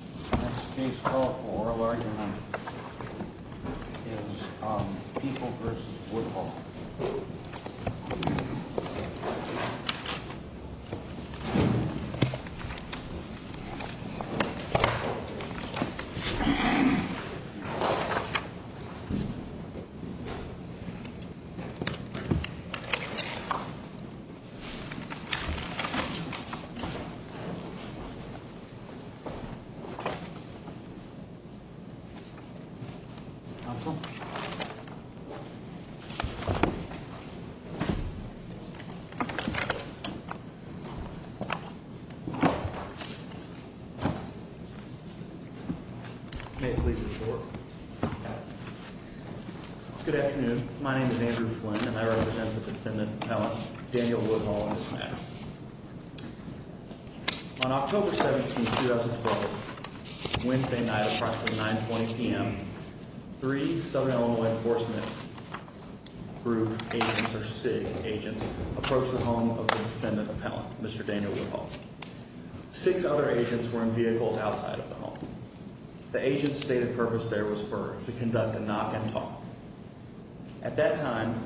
The next case called for oral argument is Peoples v. Woodhall Good afternoon. My name is Andrew Flynn, and I represent the defendant, Allen Daniel Woodhall, in this matter. On October 17, 2012, Wednesday night at approximately 9.20 p.m., three Southern Illinois Enforcement Group agents, or SIG agents, approached the home of the defendant's appellant, Mr. Daniel Woodhall. Six other agents were in vehicles outside of the home. The agents stated purpose there was for to conduct a knock and talk. At that time,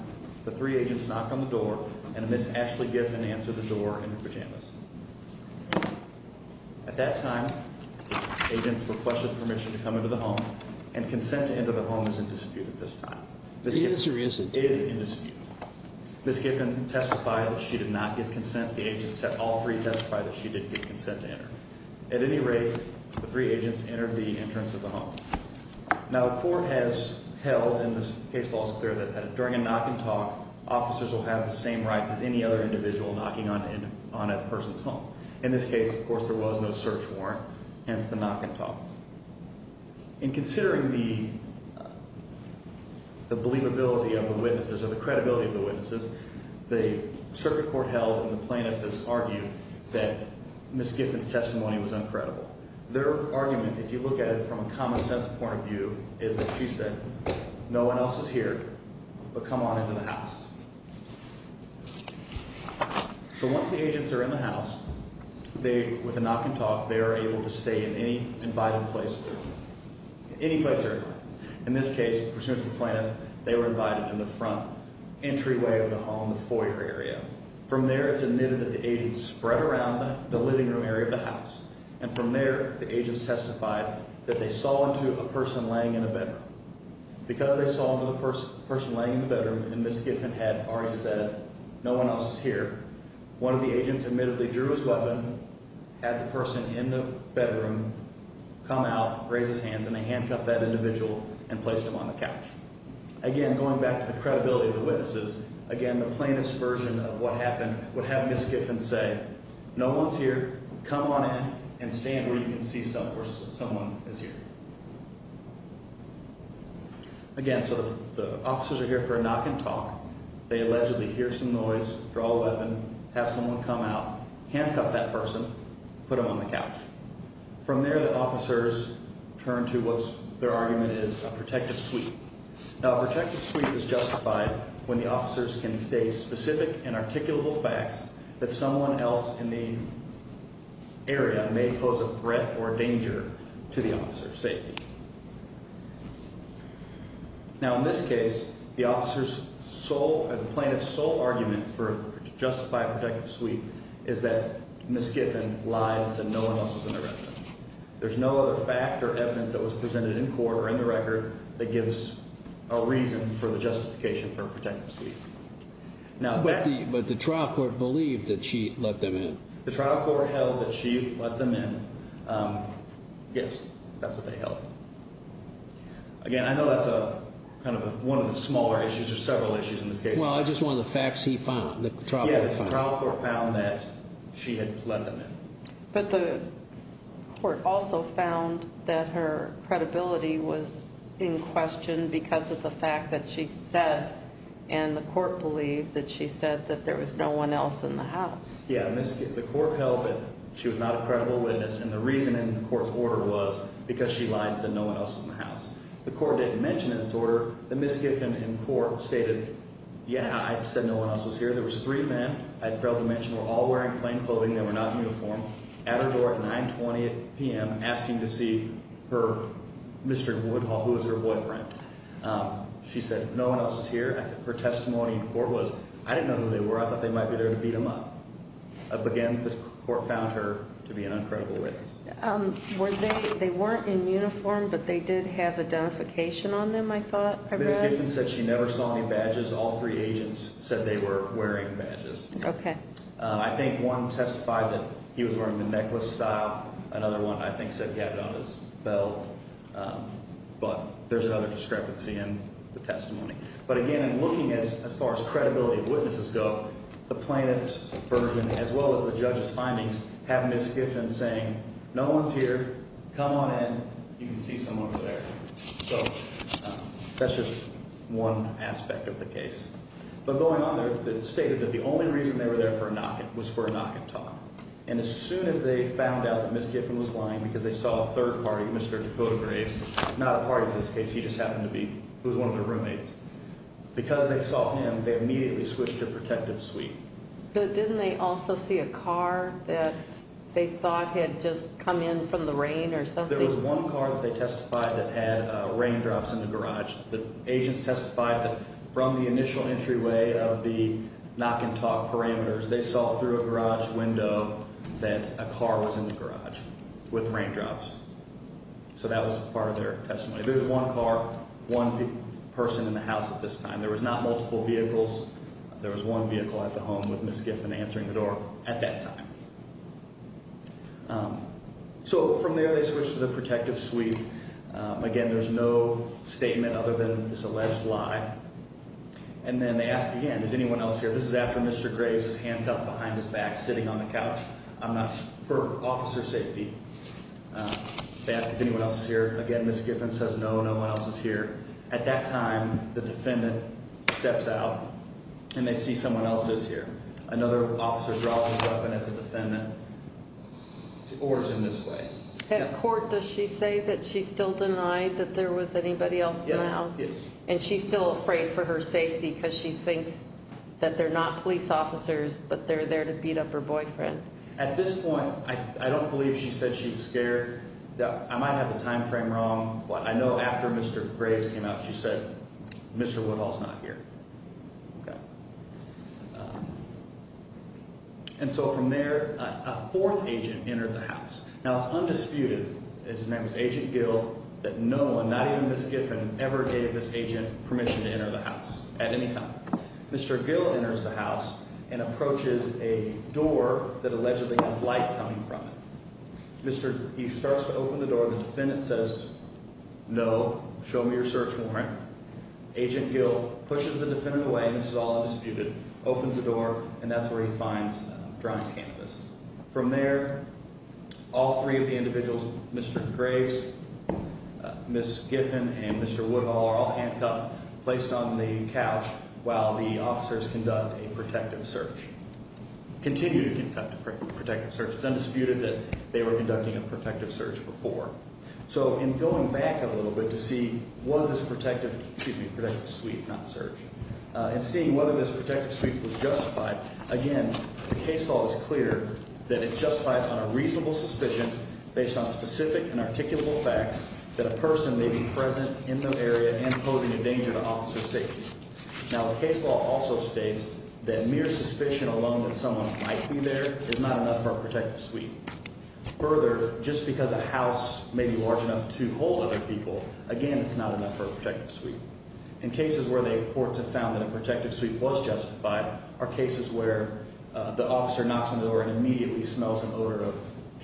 the three agents knocked on the door, and a Ms. Ashley Giffen answered the door in her pajamas. At that time, agents requested permission to come into the home, and consent to enter the home is in dispute at this time. The answer is in dispute. It is in dispute. Ms. Giffen testified that she did not give consent. The agents, all three, testified that she did give consent to enter. At any rate, the three agents entered the entrance of the home. Now, the court has held, and this case law is clear, that during a knock and talk, officers will have the same rights as any other individual knocking on a person's home. In this case, of course, there was no search warrant, hence the knock and talk. In considering the believability of the witnesses, or the credibility of the witnesses, the circuit court held, and the plaintiff has argued, that Ms. Giffen's testimony was uncredible. Their argument, if you look at it from a common sense point of view, is that she said, no one else is here, but come on into the house. So once the agents are in the house, they, with a knock and talk, they are able to stay in any invited place, any place they're in. In this case, pursuant to the plaintiff, they were invited in the front entryway of the home, the foyer area. From there, it's admitted that the agents spread around the living room area of the house. And from there, the agents testified that they saw into a person laying in a bedroom. Because they saw into the person laying in the bedroom, and Ms. Giffen had already said, no one else is here, one of the agents admittedly drew his weapon, had the person in the bedroom come out, raise his hands, and they handcuffed that individual and placed him on the couch. Again, going back to the credibility of the witnesses, again, the plaintiff's version of what happened would have Ms. Giffen say, no one's here, come on in, and stand where you can see someone is here. Again, so the officers are here for a knock and talk. They allegedly hear some noise, draw a weapon, have someone come out, handcuff that person, put him on the couch. From there, the officers turn to what their argument is, a protective sweep. Now, a protective sweep is justified when the officers can state specific and articulable facts that someone else in the area may pose a threat or a danger to the officer's safety. Now, in this case, the plaintiff's sole argument to justify a protective sweep is that Ms. Giffen lied and said no one else was in the residence. There's no other fact or evidence that was presented in court or in the record that gives a reason for the justification for a protective sweep. But the trial court believed that she let them in. The trial court held that she let them in. Yes, that's what they held. Again, I know that's kind of one of the smaller issues, there's several issues in this case. Well, it's just one of the facts he found, the trial court found. Yeah, the trial court found that she had let them in. But the court also found that her credibility was in question because of the fact that she said, and the court believed that she said, that there was no one else in the house. Yeah, the court held that she was not a credible witness, and the reason in the court's order was because she lied and said no one else was in the house. The court didn't mention in its order that Ms. Giffen in court stated, yeah, I said no one else was here. There was three men I failed to mention were all wearing plain clothing. They were not in uniform, at her door at 920 p.m. asking to see her, Mr. Woodhull, who was her boyfriend. She said no one else was here. Her testimony in court was, I didn't know who they were. I thought they might be there to beat them up. Again, the court found her to be an uncredible witness. They weren't in uniform, but they did have identification on them, I thought I read. Ms. Giffen said she never saw any badges. All three agents said they were wearing badges. Okay. I think one testified that he was wearing the necklace style. Another one, I think, said he had it on his belt. But there's another discrepancy in the testimony. But again, in looking as far as credibility of witnesses go, the plaintiff's version, as well as the judge's findings, have Ms. Giffen saying, no one's here. Come on in. You can see someone's there. So that's just one aspect of the case. But going on there, it's stated that the only reason they were there for a knockout was for a knockout talk. And as soon as they found out that Ms. Giffen was lying because they saw a third party, Mr. Dakota Graves, not a party in this case. He just happened to be one of their roommates. Because they saw him, they immediately switched to protective suite. But didn't they also see a car that they thought had just come in from the rain or something? There was one car that they testified that had raindrops in the garage. The agents testified that from the initial entryway of the knock and talk parameters, they saw through a garage window that a car was in the garage with raindrops. So that was part of their testimony. There was one car, one person in the house at this time. There was not multiple vehicles. There was one vehicle at the home with Ms. Giffen answering the door at that time. So from there, they switched to the protective suite. Again, there's no statement other than this alleged lie. And then they ask again, is anyone else here? This is after Mr. Graves is handcuffed behind his back, sitting on the couch. I'm not sure, for officer safety. They ask if anyone else is here. Again, Ms. Giffen says no, no one else is here. At that time, the defendant steps out and they see someone else is here. Another officer drops his weapon at the defendant. The order's in this way. At court, does she say that she's still denied that there was anybody else in the house? Yes. And she's still afraid for her safety because she thinks that they're not police officers, but they're there to beat up her boyfriend. At this point, I don't believe she said she was scared. I might have the time frame wrong, but I know after Mr. Graves came out, she said, Mr. Woodhall's not here. Okay. And so from there, a fourth agent entered the house. Now, it's undisputed that it was Agent Gill that no one, not even Ms. Giffen, ever gave this agent permission to enter the house at any time. Mr. Gill enters the house and approaches a door that allegedly has light coming from it. He starts to open the door. The defendant says, no, show me your search warrant. Agent Gill pushes the defendant away, and this is all undisputed, opens the door, and that's where he finds drunk cannabis. From there, all three of the individuals, Mr. Graves, Ms. Giffen, and Mr. Woodhall, are all handcuffed, placed on the couch while the officers conduct a protective search, continue to conduct a protective search. It's undisputed that they were conducting a protective search before. So in going back a little bit to see was this protective, excuse me, protective sweep, not search, and seeing whether this protective sweep was justified, again, the case law is clear that it justified on a reasonable suspicion based on specific and articulable facts that a person may be present in the area and posing a danger to officer safety. Now, the case law also states that mere suspicion alone that someone might be there is not enough for a protective sweep. Further, just because a house may be large enough to hold other people, again, it's not enough for a protective sweep. In cases where the courts have found that a protective sweep was justified are cases where the officer knocks on the door and immediately smells the odor of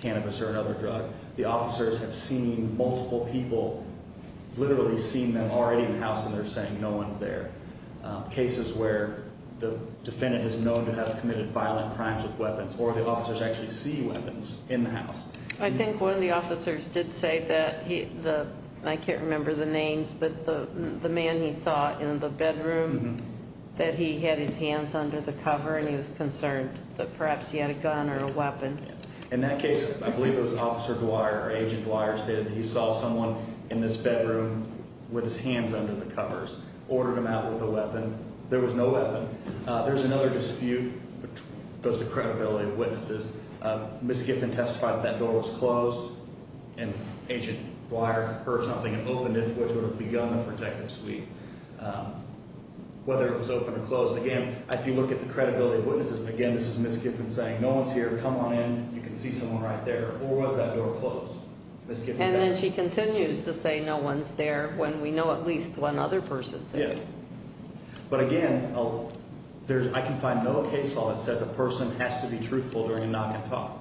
cannabis or another drug. The officers have seen multiple people, literally seen them already in the house, and they're saying no one's there. Cases where the defendant is known to have committed violent crimes with weapons or the officers actually see weapons in the house. I think one of the officers did say that he, I can't remember the names, but the man he saw in the bedroom, that he had his hands under the cover and he was concerned that perhaps he had a gun or a weapon. In that case, I believe it was Officer Dwyer or Agent Dwyer said he saw someone in this bedroom with his hands under the covers, ordered him out with a weapon. There was no weapon. There's another dispute that goes to credibility of witnesses. Ms. Giffen testified that that door was closed and Agent Dwyer heard something and opened it, which would have begun the protective sweep, whether it was open or closed. Again, if you look at the credibility of witnesses, again, this is Ms. Giffen saying, no one's here, come on in, you can see someone right there, or was that door closed? Ms. Giffen testified. And then she continues to say no one's there when we know at least one other person's there. But again, I can find no case law that says a person has to be truthful during a knock and talk.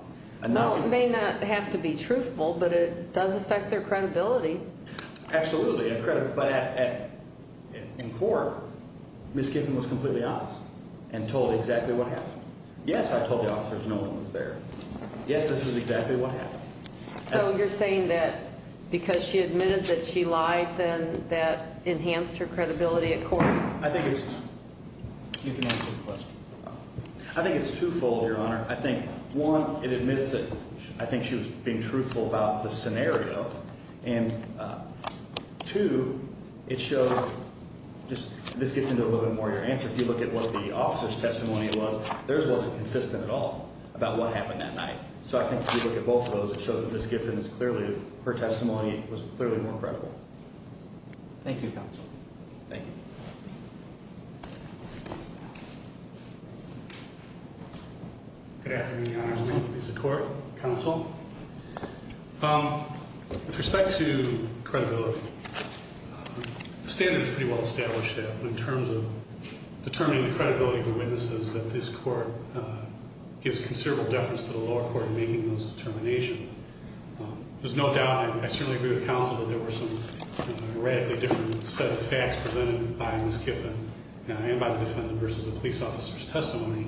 No, it may not have to be truthful, but it does affect their credibility. Absolutely. But in court, Ms. Giffen was completely honest and told exactly what happened. Yes, I told the officers no one was there. Yes, this is exactly what happened. So you're saying that because she admitted that she lied, then that enhanced her credibility at court? I think it's twofold, Your Honor. I think, one, it admits that I think she was being truthful about the scenario, and, two, it shows this gets into a little bit more of your answer. If you look at what the officer's testimony was, theirs wasn't consistent at all about what happened that night. So I think if you look at both of those, it shows that Ms. Giffen's clearly, her testimony was clearly more credible. Thank you, counsel. Thank you. Good afternoon, Your Honor. This is the court. Counsel. With respect to credibility, the standard is pretty well established in terms of determining the credibility of the witnesses that this court gives considerable deference to the lower court in making those determinations. There's no doubt, and I certainly agree with counsel, that there were some radically different set of facts presented by Ms. Giffen and by the defendant versus the police officer's testimony.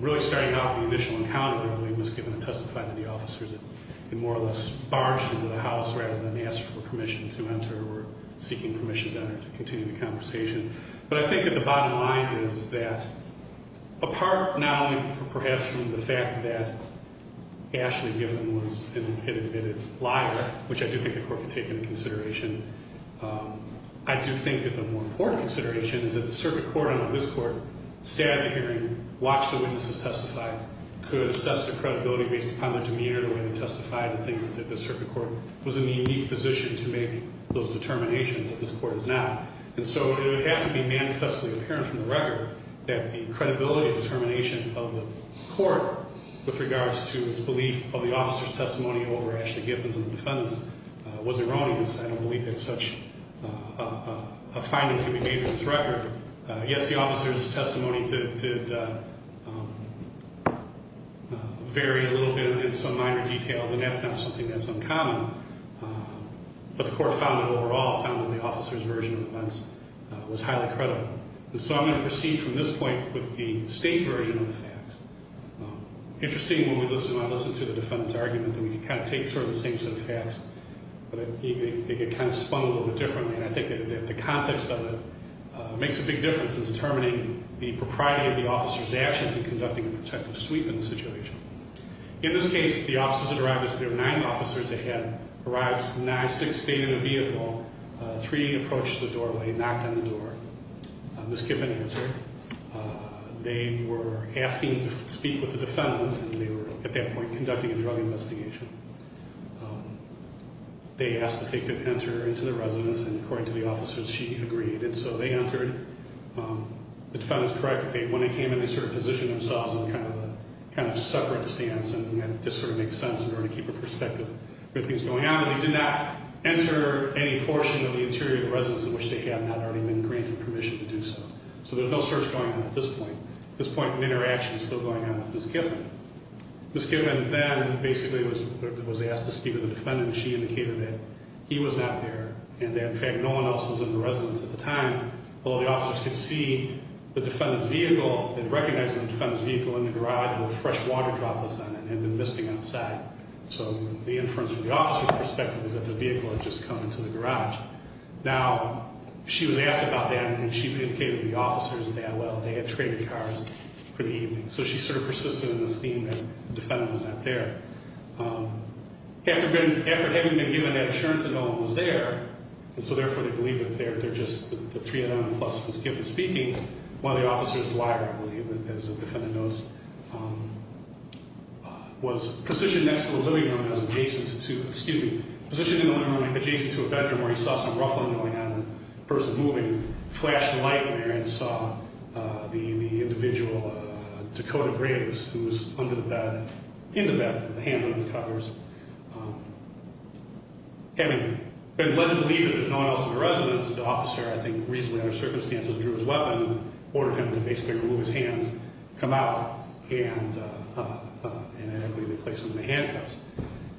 Really starting out with the initial encounter, I believe Ms. Giffen had testified to the officers and more or less barged into the house rather than asking for permission to enter or seeking permission to enter to continue the conversation. But I think that the bottom line is that apart now perhaps from the fact that Ashley Giffen was an admitted liar, which I do think the court could take into consideration, I do think that the more important consideration is that the circuit court on this court sat at the hearing, watched the witnesses testify, could assess their credibility based upon their demeanor, the way they testified, and things that the circuit court was in the unique position to make those determinations that this court is not. And so it has to be manifestly apparent from the record that the credibility determination of the court with regards to its belief of the officer's testimony over Ashley Giffen's and the defendant's was erroneous. I don't believe that such a finding can be made from this record. Yes, the officer's testimony did vary a little bit in some minor details, and that's not something that's uncommon. But the court found that overall, found that the officer's version of events was highly credible. And so I'm going to proceed from this point with the state's version of the facts. Interesting when I listen to the defendant's argument that we can kind of take sort of the same set of facts, but they get kind of spun a little bit differently, and I think that the context of it makes a big difference in determining the propriety of the officer's actions in conducting a protective sweep in the situation. In this case, the officers that arrived, there were nine officers that had arrived, six stayed in a vehicle, three approached the doorway, knocked on the door. Ms. Giffen answered. They were asking to speak with the defendant, and they were at that point conducting a drug investigation. They asked if they could enter into the residence, and according to the officers, she agreed. And so they entered. The defendant's correct. When they came in, they sort of positioned themselves in kind of a separate stance, and that just sort of makes sense in order to keep a perspective with things going on. And they did not enter any portion of the interior of the residence in which they had not already been granted permission to do so. So there's no search going on at this point. At this point, an interaction is still going on with Ms. Giffen. Ms. Giffen then basically was asked to speak with the defendant, and she indicated that he was not there and that, in fact, no one else was in the residence at the time, although the officers could see the defendant's vehicle and recognize the defendant's vehicle in the garage with fresh water droplets on it and had been misting outside. So the inference from the officer's perspective is that the vehicle had just come into the garage. Now, she was asked about that, and she indicated to the officers that, well, they had traded cars for the evening. So she sort of persisted in this theme that the defendant was not there. After having been given that assurance that no one was there, and so therefore they believe that they're just the three of them, plus Ms. Giffen speaking, one of the officers, Dwyer, I believe, as the defendant knows, was positioned next to the living room and was adjacent to a bedroom where he saw some ruffling going on and a person moving, flashed a light there and saw the individual, Dakota Graves, who was under the bed, in the bed with the hands under the covers, having been led to believe that there's no one else in the residence, the officer, I think reasonably under circumstances, drew his weapon, ordered him to basically remove his hands, come out, and I believe they placed him in the handcuffs.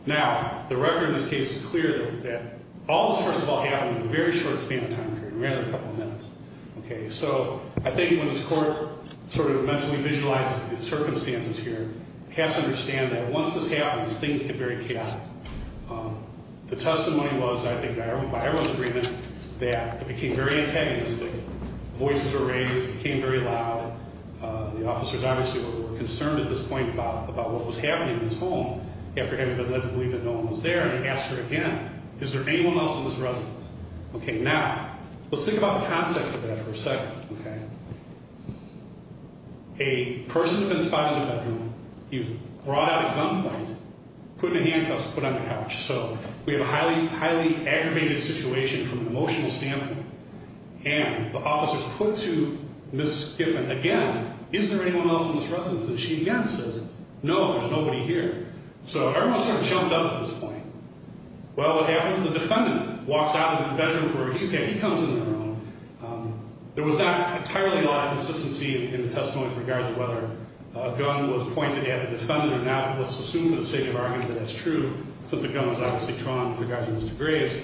Now, the record in this case is clear that all this first of all happened in a very short span of time period, around a couple of minutes, okay? So I think when this court sort of mentally visualizes these circumstances here, it has to understand that once this happens, things get very chaotic. The testimony was, I think, by everyone's agreement, that it became very antagonistic, voices were raised, it became very loud, and the officers obviously were concerned at this point about what was happening in this home after having been led to believe that no one was there, and they asked her again, is there anyone else in this residence? Okay, now, let's think about the context of that for a second, okay? A person had been spotted in the bedroom. He was brought out of gunfight, put in the handcuffs, put on the couch. So we have a highly, highly aggravated situation from an emotional standpoint, and the officers put to Ms. Giffen again, is there anyone else in this residence? And she again says, no, there's nobody here. So everyone sort of jumped up at this point. Well, what happens? The defendant walks out of the bedroom where he's at. He comes in on their own. There was not entirely a lot of consistency in the testimony with regards to whether a gun was pointed at the defendant or not. Let's assume, for the sake of argument, that that's true, since a gun was obviously drawn with regards to Mr. Graves.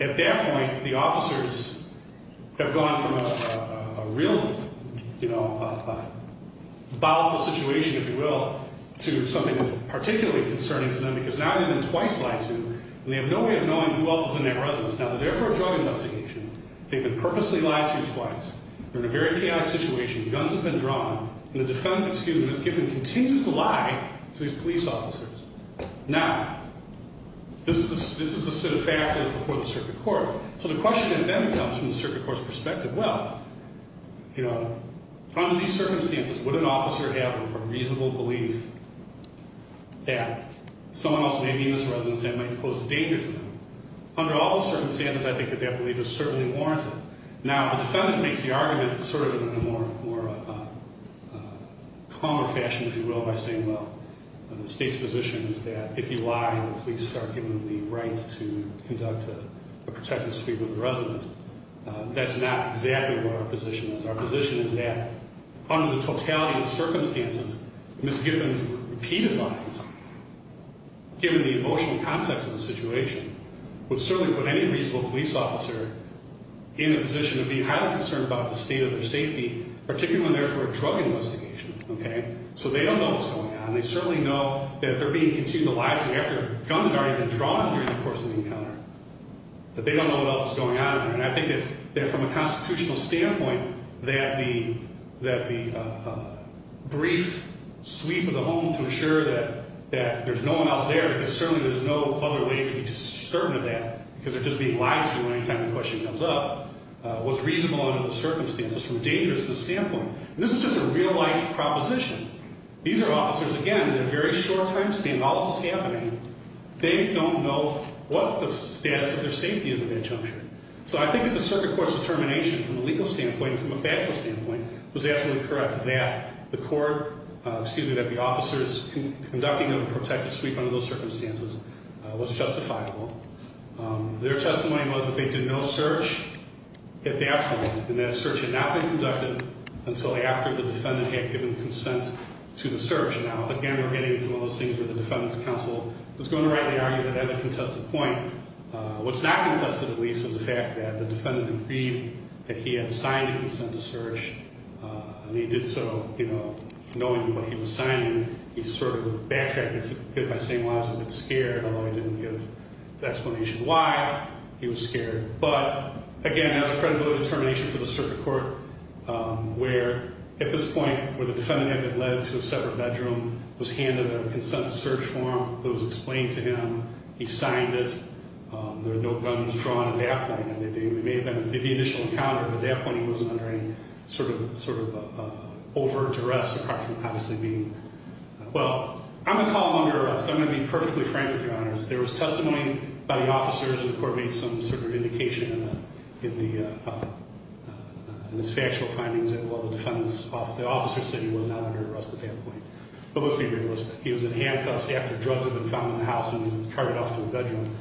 At that point, the officers have gone from a real, you know, volatile situation, if you will, to something that's particularly concerning to them, because now they've been twice lied to, and they have no way of knowing who else is in that residence now. So they're for a drug investigation. They've been purposely lied to twice. They're in a very chaotic situation. Guns have been drawn. And the defendant, excuse me, Ms. Giffen, continues to lie to these police officers. Now, this is a set of facts that was before the circuit court. So the question then comes from the circuit court's perspective. Well, you know, under these circumstances, would an officer have a reasonable belief that someone else may be in this residence that might pose a danger to them? Under all the circumstances, I think that that belief is certainly warranted. Now, the defendant makes the argument sort of in a more calmer fashion, if you will, by saying, well, the state's position is that if you lie, the police are given the right to conduct a protective sweep of the residence. That's not exactly where our position is. Our position is that under the totality of the circumstances, Ms. Giffen's repeated lies, given the emotional context of the situation, would certainly put any reasonable police officer in a position to be highly concerned about the state of their safety, particularly when they're for a drug investigation. Okay? So they don't know what's going on. They certainly know that they're being continued to lie to them after a gun had already been drawn during the course of the encounter, that they don't know what else is going on. And I think that from a constitutional standpoint, that the brief sweep of the home to ensure that there's no one else there, because certainly there's no other way to be certain of that, because they're just being lied to anytime the question comes up, was reasonable under the circumstances from a dangerousness standpoint. And this is just a real-life proposition. These are officers, again, in a very short time span. All this is happening. They don't know what the status of their safety is at that juncture. So I think that the circuit court's determination from a legal standpoint and from a factual standpoint was absolutely correct that the court, excuse me, that the officers conducting them in a protected sweep under those circumstances was justifiable. Their testimony was that they did no search at that point, and that search had not been conducted until after the defendant had given consent to the search. Now, again, we're getting into one of those things where the defendant's counsel is going to rightly argue that that's a contested point. What's not contested, at least, is the fact that the defendant agreed that he had signed a consent to search and he did so, you know, knowing what he was signing. He sort of backtracked and hid it by saying, well, I was a bit scared, although he didn't give the explanation why he was scared. But, again, that's a credible determination for the circuit court where, at this point, where the defendant had been led to a separate bedroom, was handed a consent to search form that was explained to him, he signed it, there were no guns drawn at that point. It may have been the initial encounter, but at that point he wasn't under any sort of overt duress, apart from obviously being, well, I'm going to call him under arrest. I'm going to be perfectly frank with you, Your Honors. There was testimony by the officers, and the court made some sort of indication in the factual findings that the officer said he was not under arrest at that point. But let's be realistic. He was in handcuffs after drugs had been found in the house, and he was carried off to the bedroom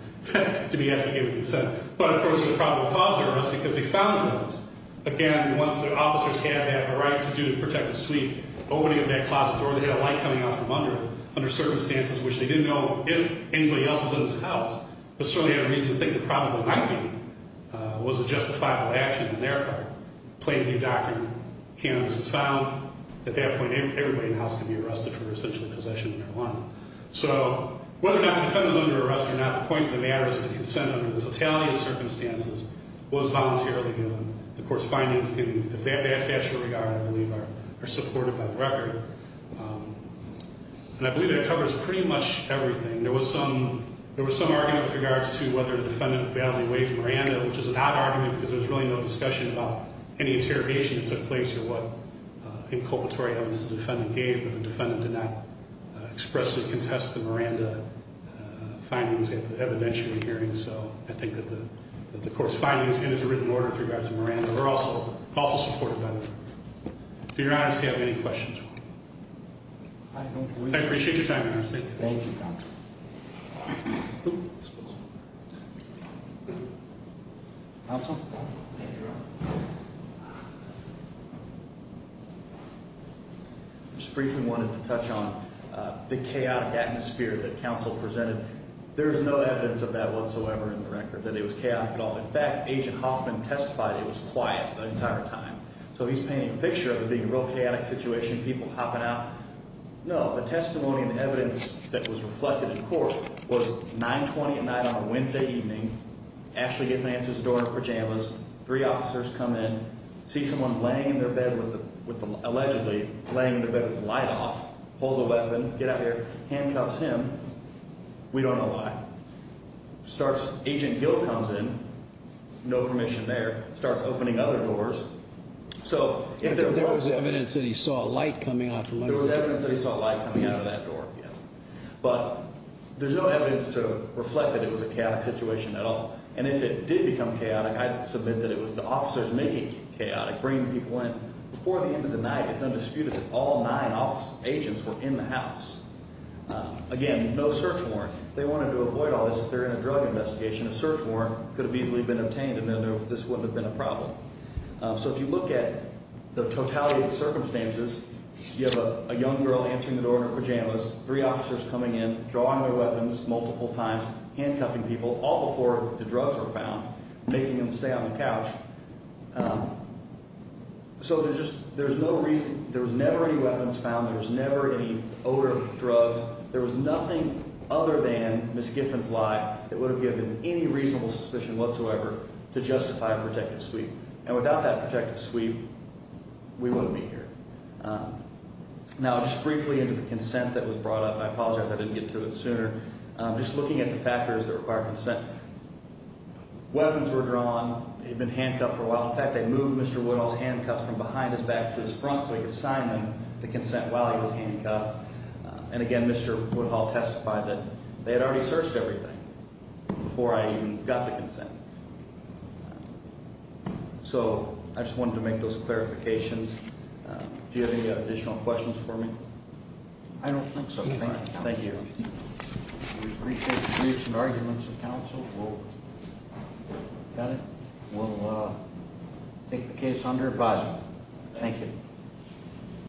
to be asked to give a consent. But, of course, there was a probable cause for arrest, because they found drugs. Again, once the officers had had a right to do the protective suite, opening of that closet door, they had a light coming out from under it, under circumstances which they didn't know if anybody else was in the house, but certainly had a reason to think that probably not being was a justifiable action on their part. Plain view doctrine, cannabis is found. At that point, everybody in the house can be arrested for essentially possession of marijuana. So whether or not the defendant was under arrest or not, the point of the matter is that the consent under the totality of circumstances was voluntarily given. The court's findings in that factual regard, I believe, are supported by the record. And I believe that covers pretty much everything. There was some argument with regards to whether the defendant validly waived marijuana, which is an odd argument, because there was really no discussion about any interrogation that took place as to what inculpatory evidence the defendant gave. But the defendant did not expressly contest the Miranda findings at the evidentiary hearing. So I think that the court's findings in its written order with regards to Miranda are also supported by the record. Do your honors have any questions? I don't believe so. I appreciate your time, your honor. Thank you. Thank you, counsel. Oops. Counsel? Just briefly wanted to touch on the chaotic atmosphere that counsel presented. There is no evidence of that whatsoever in the record, that it was chaotic at all. In fact, Agent Hoffman testified it was quiet the entire time. So he's painting a picture of it being a real chaotic situation, people hopping out. No, the testimony and evidence that was reflected in court was 9-20 at night on a Wednesday evening, Ashley Giffen answers the door in her pajamas, three officers come in, see someone laying in their bed allegedly, laying in their bed with the light off, pulls a weapon, get out there, handcuffs him. We don't know why. Agent Gill comes in, no permission there, starts opening other doors. There was evidence that he saw a light coming out the window. There was evidence that he saw a light coming out of that door, yes. But there's no evidence to reflect that it was a chaotic situation at all. And if it did become chaotic, I submit that it was the officers making it chaotic, bringing people in. Before the end of the night, it's undisputed that all nine agents were in the house. Again, no search warrant. They wanted to avoid all this. If they're in a drug investigation, a search warrant could have easily been obtained and this wouldn't have been a problem. So if you look at the totality of the circumstances, you have a young girl answering the door in her pajamas, three officers coming in, drawing their weapons multiple times, handcuffing people, all before the drugs were found, making them stay out on the couch. So there's no reason. There was never any weapons found. There was never any odor, drugs. There was nothing other than Ms. Giffen's lie that would have given any reasonable suspicion whatsoever to justify a protective sweep. And without that protective sweep, we wouldn't be here. Now, just briefly into the consent that was brought up, and I apologize I didn't get to it sooner, just looking at the factors that require consent. Weapons were drawn. They'd been handcuffed for a while. In fact, they moved Mr. Woodhull's handcuffs from behind his back to his front so he could sign them to consent while he was handcuffed. And, again, Mr. Woodhull testified that they had already searched everything before I even got the consent. So I just wanted to make those clarifications. Do you have any additional questions for me? I don't think so, sir. Thank you. We appreciate the views and arguments of counsel. We'll take the case under advisement. Thank you.